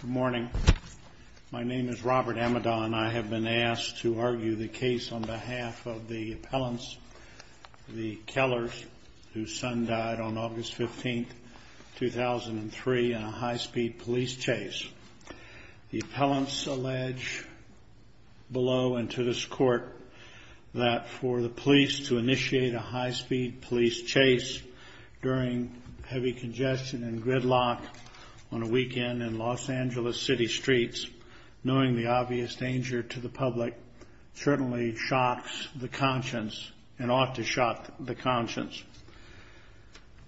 Good morning. My name is Robert Amidon. I have been asked to argue the case on behalf of the appellants, the Kellers, whose son died on August 15, 2003, in a high-speed police chase. The appellants allege below and to this court that for the police to initiate a high-speed police chase during heavy congestion and gridlock on a weekend in Los Angeles City streets, knowing the obvious danger to the public, certainly shocks the conscience and ought to shock the conscience.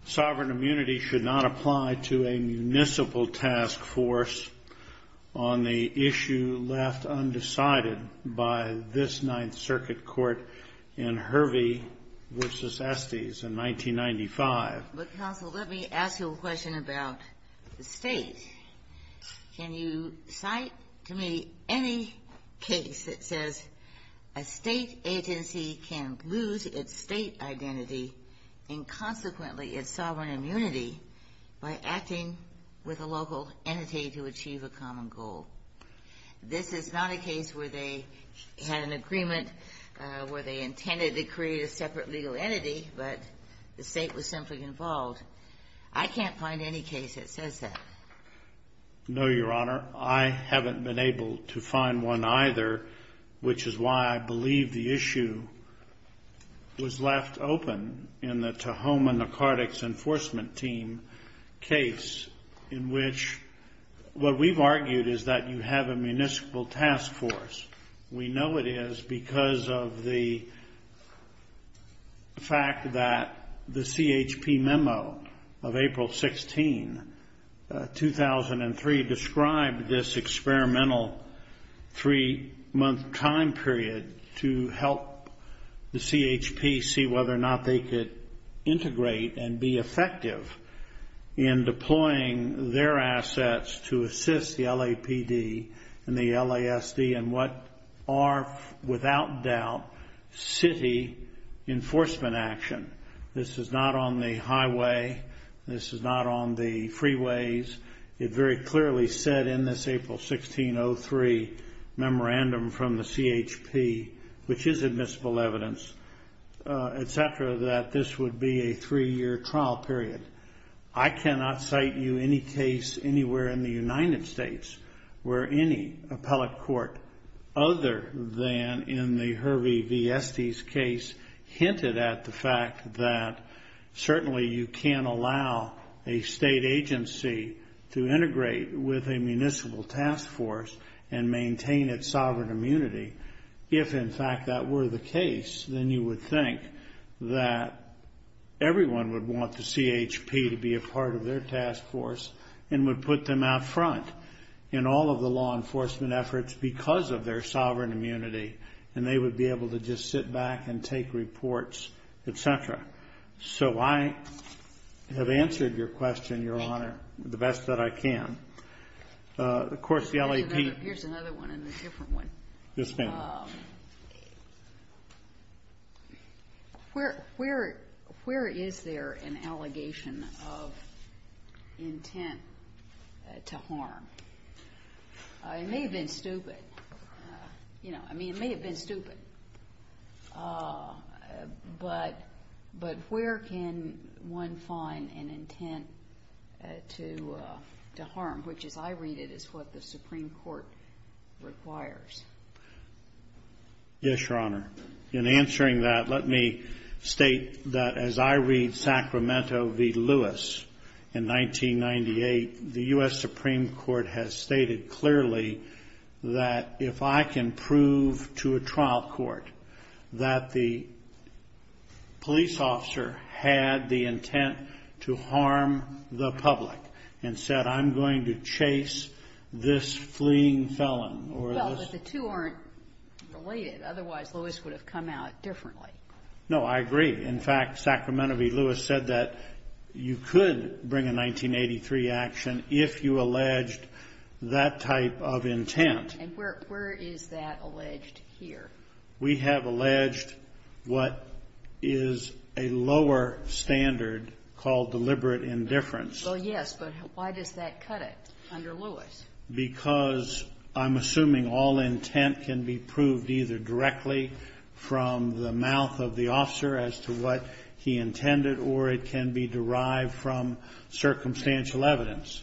Sovereign immunity should not apply to a municipal task force on the issue left undecided by this Ninth Circuit Court in Hervey v. Estes in 1995. But, counsel, let me ask you a question about the State. Can you cite to me any case that says a State agency can lose its State identity and, consequently, its sovereign immunity by acting with a local entity to achieve a common goal? This is not a case where they had an agreement where they intended to create a separate legal entity, but the State was simply involved. I can't find any case that says that. No, Your Honor. I haven't been able to find one either, which is why I believe the issue was left open in the Tahoma Narcotics Enforcement Team case in which what we've argued is that you have a municipal task force. We know it is because of the fact that the CHP memo of April 16, 2003, described this experimental three-month time period to help the CHP see whether or not they could integrate and be effective in deploying their assets to assist the LAPD and the LASD in what are, without doubt, city enforcement action. This is not on the highway. This is not on the freeways. It very clearly said in this April 16, 2003, memorandum from the CHP, which is admissible evidence, etc., that this would be a three-year trial period. I cannot cite you any case anywhere in the United States where any appellate court, other than in the Hervey v. Estes case, hinted at the fact that certainly you can't allow a state agency to integrate with a municipal task force and maintain its sovereign immunity. If, in fact, that were the case, then you would think that everyone would want the CHP to be a part of their task force and would put them out front in all of the law enforcement efforts because of their sovereign immunity, and they would be able to just sit back and take reports, etc. So I have answered your question, Your Honor, the best that I can. Of course, the LAPD ---- Here's another one and a different one. Yes, ma'am. Where is there an allegation of intent to harm? It may have been stupid. I mean, it may have been stupid. But where can one find an intent to harm, which, as I read it, is what the Supreme Court requires? Yes, Your Honor. In answering that, let me state that as I read Sacramento v. Lewis in 1998, the U.S. Supreme Court has stated clearly that if I can prove to a trial court that the police officer had the intent to harm the public and said, I'm going to chase this fleeing felon or this ---- No, I agree. In fact, Sacramento v. Lewis said that you could bring a 1983 action if you alleged that type of intent. And where is that alleged here? We have alleged what is a lower standard called deliberate indifference. Well, yes, but why does that cut it under Lewis? Because I'm assuming all intent can be proved either directly from the mouth of the officer as to what he intended or it can be derived from circumstantial evidence.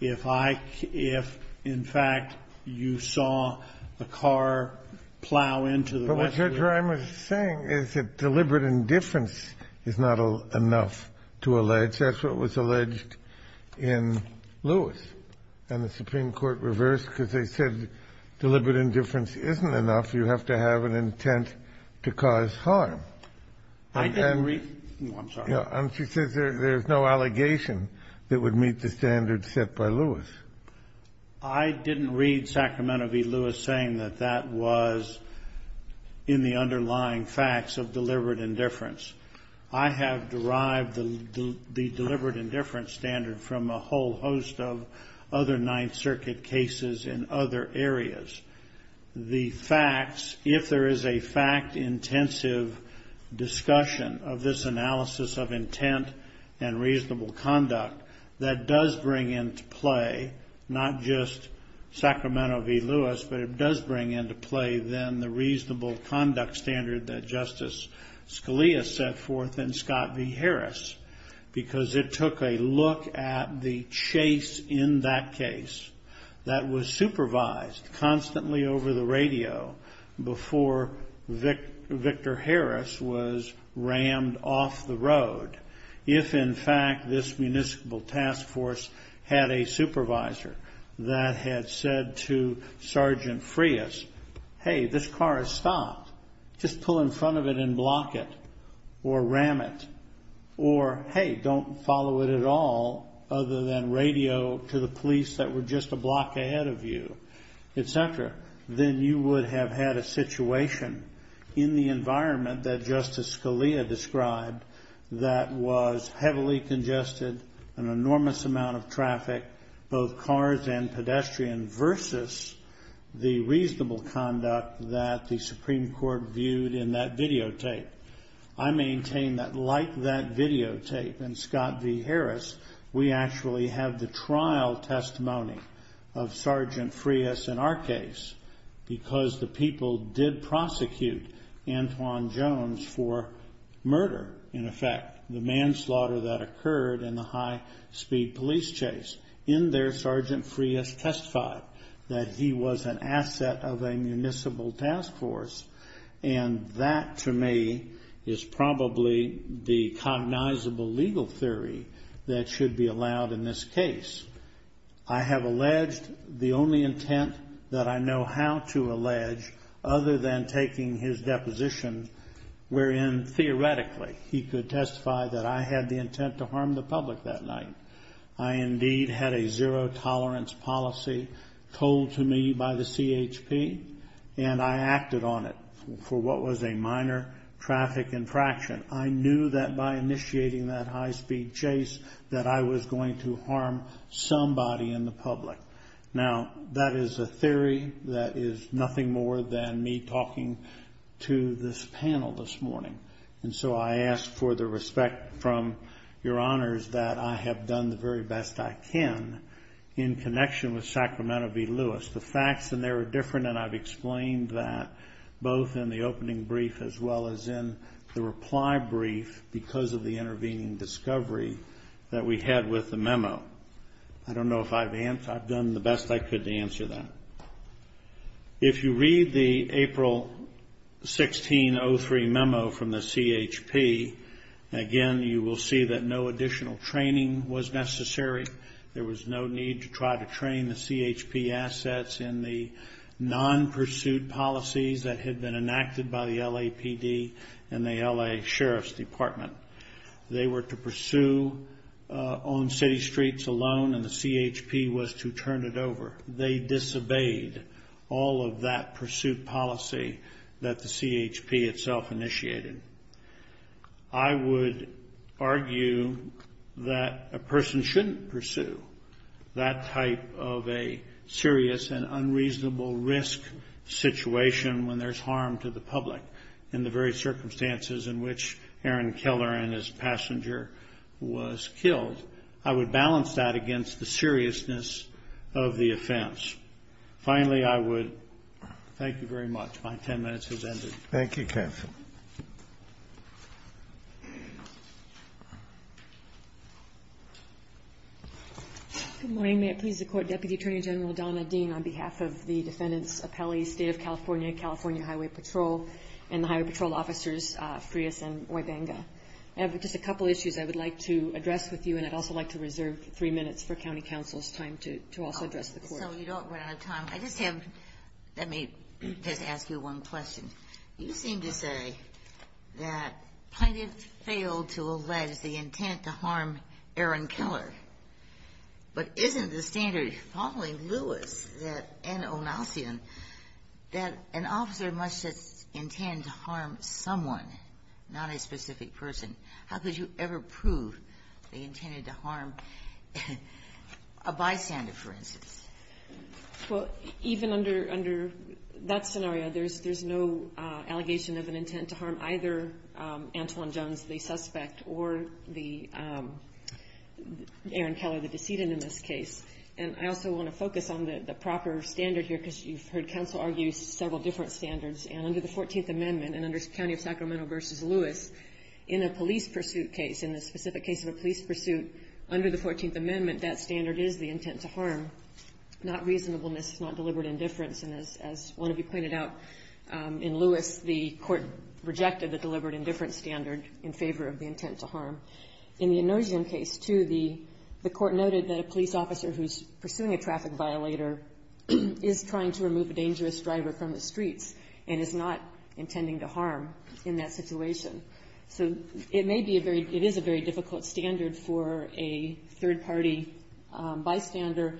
If I can ---- if, in fact, you saw a car plow into the west ---- But what I'm saying is that deliberate indifference is not enough to allege. That's what was alleged in Lewis. And the Supreme Court reversed because they said deliberate indifference isn't enough. You have to have an intent to cause harm. I didn't read ---- I'm sorry. And she says there's no allegation that would meet the standards set by Lewis. I didn't read Sacramento v. Lewis saying that that was in the underlying facts of deliberate indifference. I have derived the deliberate indifference standard from a whole host of other Ninth Circuit cases in other areas. The facts, if there is a fact-intensive discussion of this analysis of intent and reasonable conduct, that does bring into play not just Sacramento v. Lewis, but it does bring into play then the reasonable conduct standard that Justice Scalia set forth in Scott v. Harris because it took a look at the chase in that case that was supervised constantly over the radio before Victor Harris was rammed off the road. If, in fact, this municipal task force had a supervisor that had said to Sergeant Frias, hey, this car is stopped, just pull in front of it and block it or ram it, or hey, don't follow it at all other than radio to the police that were just a block ahead of you, et cetera, then you would have had a situation in the environment that Justice Scalia described that was heavily congested, an enormous amount of traffic, both cars and pedestrian, versus the reasonable conduct that the Supreme Court viewed in that videotape. I maintain that like that videotape in Scott v. Harris, we actually have the trial testimony of Sergeant Frias in our case because the people did prosecute Antwon Jones for murder, in effect, the manslaughter that occurred in the high-speed police chase. In there, Sergeant Frias testified that he was an asset of a municipal task force, and that to me is probably the cognizable legal theory that should be allowed in this case. I have alleged the only intent that I know how to allege other than taking his deposition wherein theoretically he could testify that I had the intent to harm the public that night. I indeed had a zero-tolerance policy told to me by the CHP, and I acted on it for what was a minor traffic infraction. I knew that by initiating that high-speed chase that I was going to harm somebody in the public. Now, that is a theory that is nothing more than me talking to this panel this morning, and so I ask for the respect from your honors that I have done the very best I can in connection with Sacramento v. Lewis. The facts in there are different, and I've explained that both in the opening brief as well as in the reply brief because of the intervening discovery that we had with the memo. I don't know if I've done the best I could to answer that. If you read the April 1603 memo from the CHP, again, you will see that no additional training was necessary. There was no need to try to train the CHP assets in the non-pursued policies that had been enacted by the LAPD and the L.A. Sheriff's Department. They were to pursue on city streets alone, and the CHP was to turn it over. They disobeyed all of that pursuit policy that the CHP itself initiated. I would argue that a person shouldn't pursue that type of a serious and unreasonable risk situation when there's harm to the public in the very circumstances in which Aaron Keller and his passenger was killed. I would balance that against the seriousness of the offense. Finally, I would thank you very much. My 10 minutes has ended. Thank you, counsel. Good morning. May it please the Court, Deputy Attorney General Donna Dean, on behalf of the defendants' appellees, State of California, California Highway Patrol, and the Highway Patrol officers, Frias and Wibenga. I have just a couple issues I would like to address with you, and I'd also like to reserve three minutes for county counsel's time to also address the Court. So you don't run out of time. I just have to ask you one question. You seem to say that Plaintiff failed to allege the intent to harm Aaron Keller, but isn't the standard following Lewis and Onassian that an officer must intend to harm someone, not a specific person? How could you ever prove they intended to harm a bystander, for instance? Well, even under that scenario, there's no allegation of an intent to harm either Antoine Jones, the suspect, or Aaron Keller, the decedent, in this case. And I also want to focus on the proper standard here, because you've heard counsel argue several different standards. And under the 14th Amendment and under County of Sacramento v. Lewis, in a police pursuit case, in the specific case of a police pursuit, under the 14th Amendment, that standard is the intent to harm, not reasonableness, not deliberate indifference. And as one of you pointed out, in Lewis, the Court rejected the deliberate indifference standard in favor of the intent to harm. In the Onassian case, too, the Court noted that a police officer who's pursuing a traffic violator is trying to remove a dangerous driver from the streets and is not intending to harm in that situation. So it may be a very — it is a very difficult standard for a third-party bystander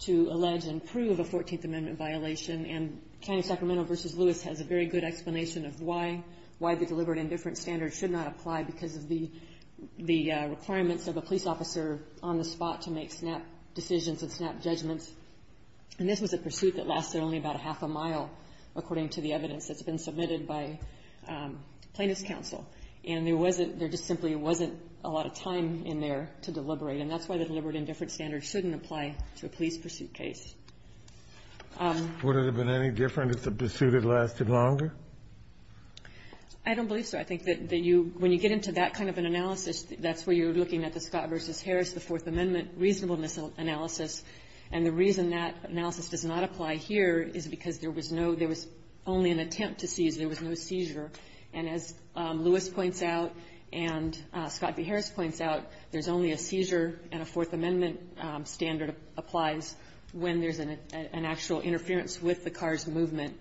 to allege and prove a 14th Amendment violation. And County of Sacramento v. Lewis has a very good explanation of why the deliberate indifference standard should not apply because of the requirements of a police officer on the spot to make snap decisions and snap judgments. And this was a pursuit that lasted only about a half a mile, according to the evidence that's been submitted by plaintiff's counsel. And there wasn't — there just simply wasn't a lot of time in there to deliberate. And that's why the deliberate indifference standard shouldn't apply to a police pursuit case. Kennedy. Would it have been any different if the pursuit had lasted longer? I don't believe so. I think that you — when you get into that kind of an analysis, that's where you're looking at the Scott v. Harris, the Fourth Amendment reasonableness analysis. And the reason that analysis does not apply here is because there was no — there was only an attempt to seize. There was no seizure. And as Lewis points out and Scott v. Harris points out, there's only a seizure and a Fourth Amendment standard applies when there's an actual interference with the car's movement,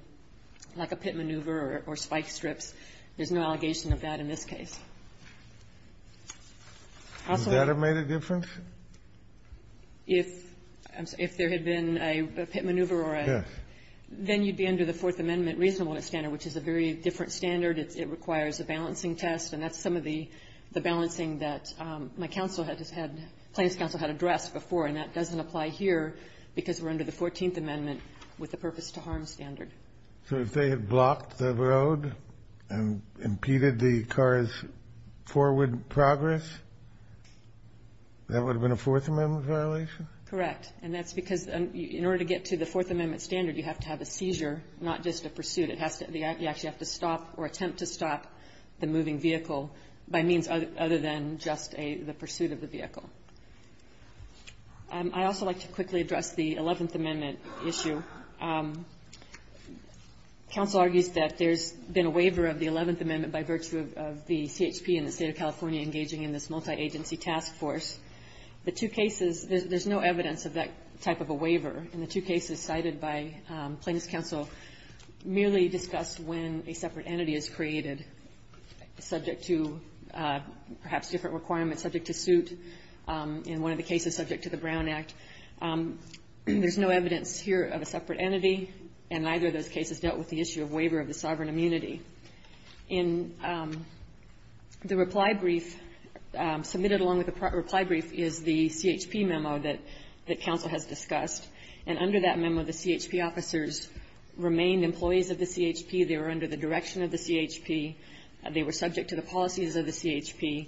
like a pit maneuver or spike strips. There's no allegation of that in this case. Also — Would that have made a difference? If there had been a pit maneuver or a — Yes. Then you'd be under the Fourth Amendment reasonableness standard, which is a very different standard. It requires a balancing test, and that's some of the balancing that my counsel had just had — plaintiff's counsel had addressed before, and that doesn't apply here because we're under the Fourteenth Amendment with the purpose-to-harm standard. So if they had blocked the road and impeded the car's forward progress, that would have been a Fourth Amendment violation? Correct. And that's because in order to get to the Fourth Amendment standard, you have to have a seizure, not just a pursuit. It has to — you actually have to stop or attempt to stop the moving vehicle by means other than just a — the pursuit of the vehicle. I'd also like to quickly address the Eleventh Amendment issue. Counsel argues that there's been a waiver of the Eleventh Amendment by virtue of the CHP and the State of California engaging in this multi-agency task force. The two cases — there's no evidence of that type of a waiver. And the two cases cited by plaintiff's counsel merely discuss when a separate entity is created subject to perhaps different requirements, subject to suit in one of the cases subject to the Brown Act. There's no evidence here of a separate entity, and neither of those cases dealt with the issue of waiver of the sovereign immunity. In the reply brief, submitted along with the reply brief, is the CHP memo that counsel has discussed. And under that memo, the CHP officers remained employees of the CHP. They were under the direction of the CHP. They were subject to the policies of the CHP.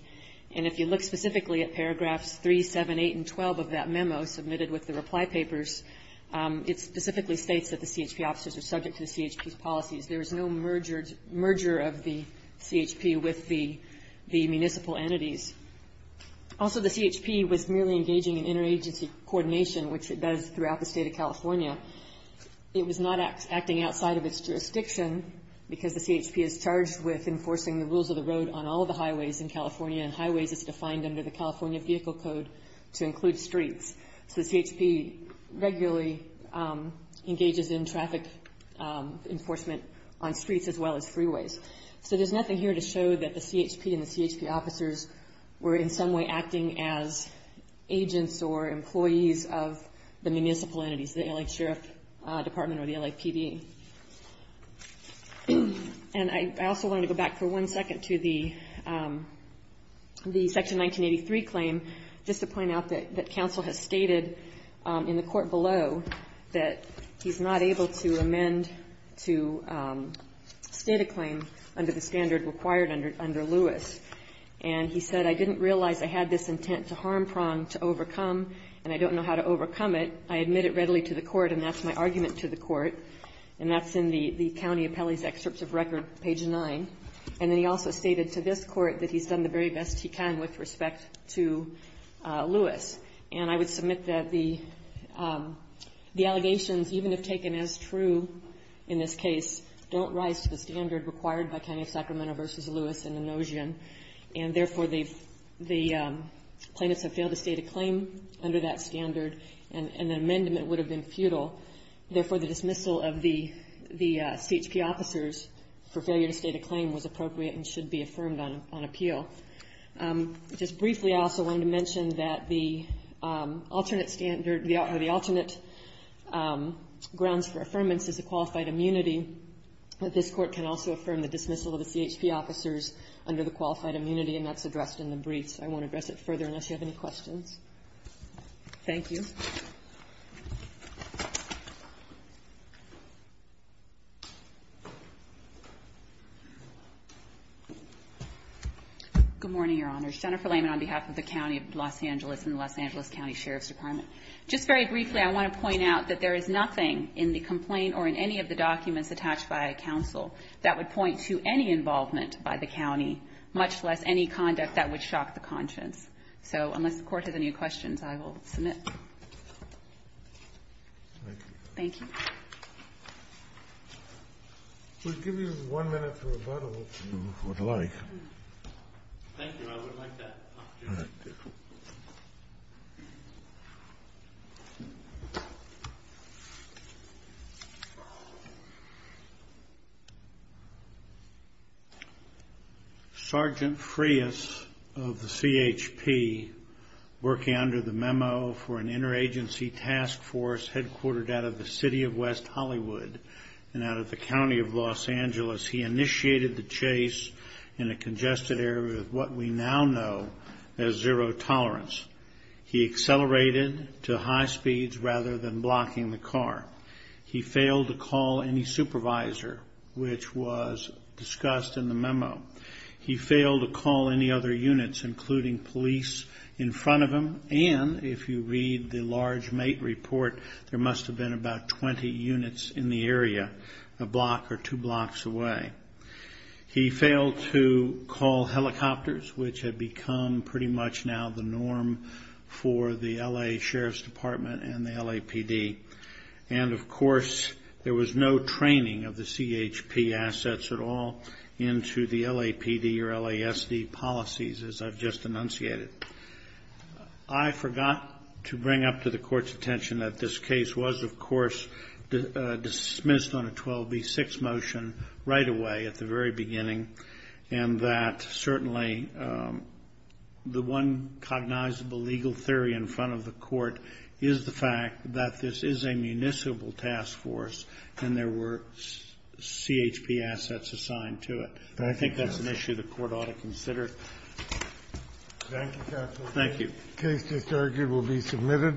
And if you look specifically at paragraphs 3, 7, 8, and 12 of that memo submitted with the reply papers, it specifically states that the CHP officers are subject to the CHP's policies. There is no merger of the CHP with the municipal entities. Also, the CHP was merely engaging in interagency coordination, which it does throughout the State of California. It was not acting outside of its jurisdiction because the CHP is charged with enforcing the rules of the road on all of the highways in California, and highways is defined under the California Vehicle Code to include streets. So the CHP regularly engages in traffic enforcement on streets as well as freeways. So there's nothing here to show that the CHP and the CHP officers were in some way acting as agents or employees of the municipal entities, the L.A. Sheriff Department or the LAPD. And I also want to go back for one second to the Section 1983 claim just to point out that counsel has stated in the court below that he's not able to amend to state a claim under the standard required under Lewis. And he said, I didn't realize I had this intent to harm Prong to overcome, and I don't know how to overcome it. I admit it readily to the court, and that's my argument to the court. And that's in the county appellee's excerpt of record, page 9. And then he also stated to this court that he's done the very best he can with respect to Lewis. And I would submit that the allegations, even if taken as true in this case, don't rise to the standard required by County of Sacramento v. Lewis in the notion. And therefore, the plaintiffs have failed to state a claim under that standard, and an amendment would have been futile. Therefore, the dismissal of the CHP officers for failure to state a claim was appropriate and should be affirmed on appeal. Just briefly, I also wanted to mention that the alternate standard or the alternate grounds for affirmance is a qualified immunity. This Court can also affirm the dismissal of the CHP officers under the qualified immunity, and that's addressed in the briefs. I won't address it further unless you have any questions. Thank you. Good morning, Your Honors. Jennifer Layman on behalf of the County of Los Angeles and the Los Angeles County Sheriff's Department. Just very briefly, I want to point out that there is nothing in the complaint or in any of the documents attached by counsel that would point to any involvement by the county, much less any conduct that would shock the conscience. So unless the Court has any questions, I will submit. Thank you. We'll give you one minute for rebuttal, if you would like. Thank you. I would like that opportunity. All right. Sergeant Frias of the CHP, working under the memo for an interagency task force headquartered out of the City of West Hollywood and out of the County of Los Angeles, he initiated the chase in a congested area of what we now know as zero tolerance. He accelerated to high speeds rather than blocking the car. He failed to call any supervisor, which was discussed in the memo. He failed to call any other units, including police, in front of him, and if you read the large mate report, there must have been about 20 units in the area a block or two blocks away. He failed to call helicopters, which had become pretty much now the norm for the L.A. Sheriff's Department and the LAPD. And, of course, there was no training of the CHP assets at all into the LAPD or LASD policies, as I've just enunciated. I forgot to bring up to the Court's attention that this case was, of course, dismissed on a 12B6 motion right away at the very beginning, and that certainly the one cognizable legal theory in front of the Court is the fact that this is a municipal task force and there were CHP assets assigned to it. I think that's an issue the Court ought to consider. Thank you, counsel. Thank you. The case disargued will be submitted.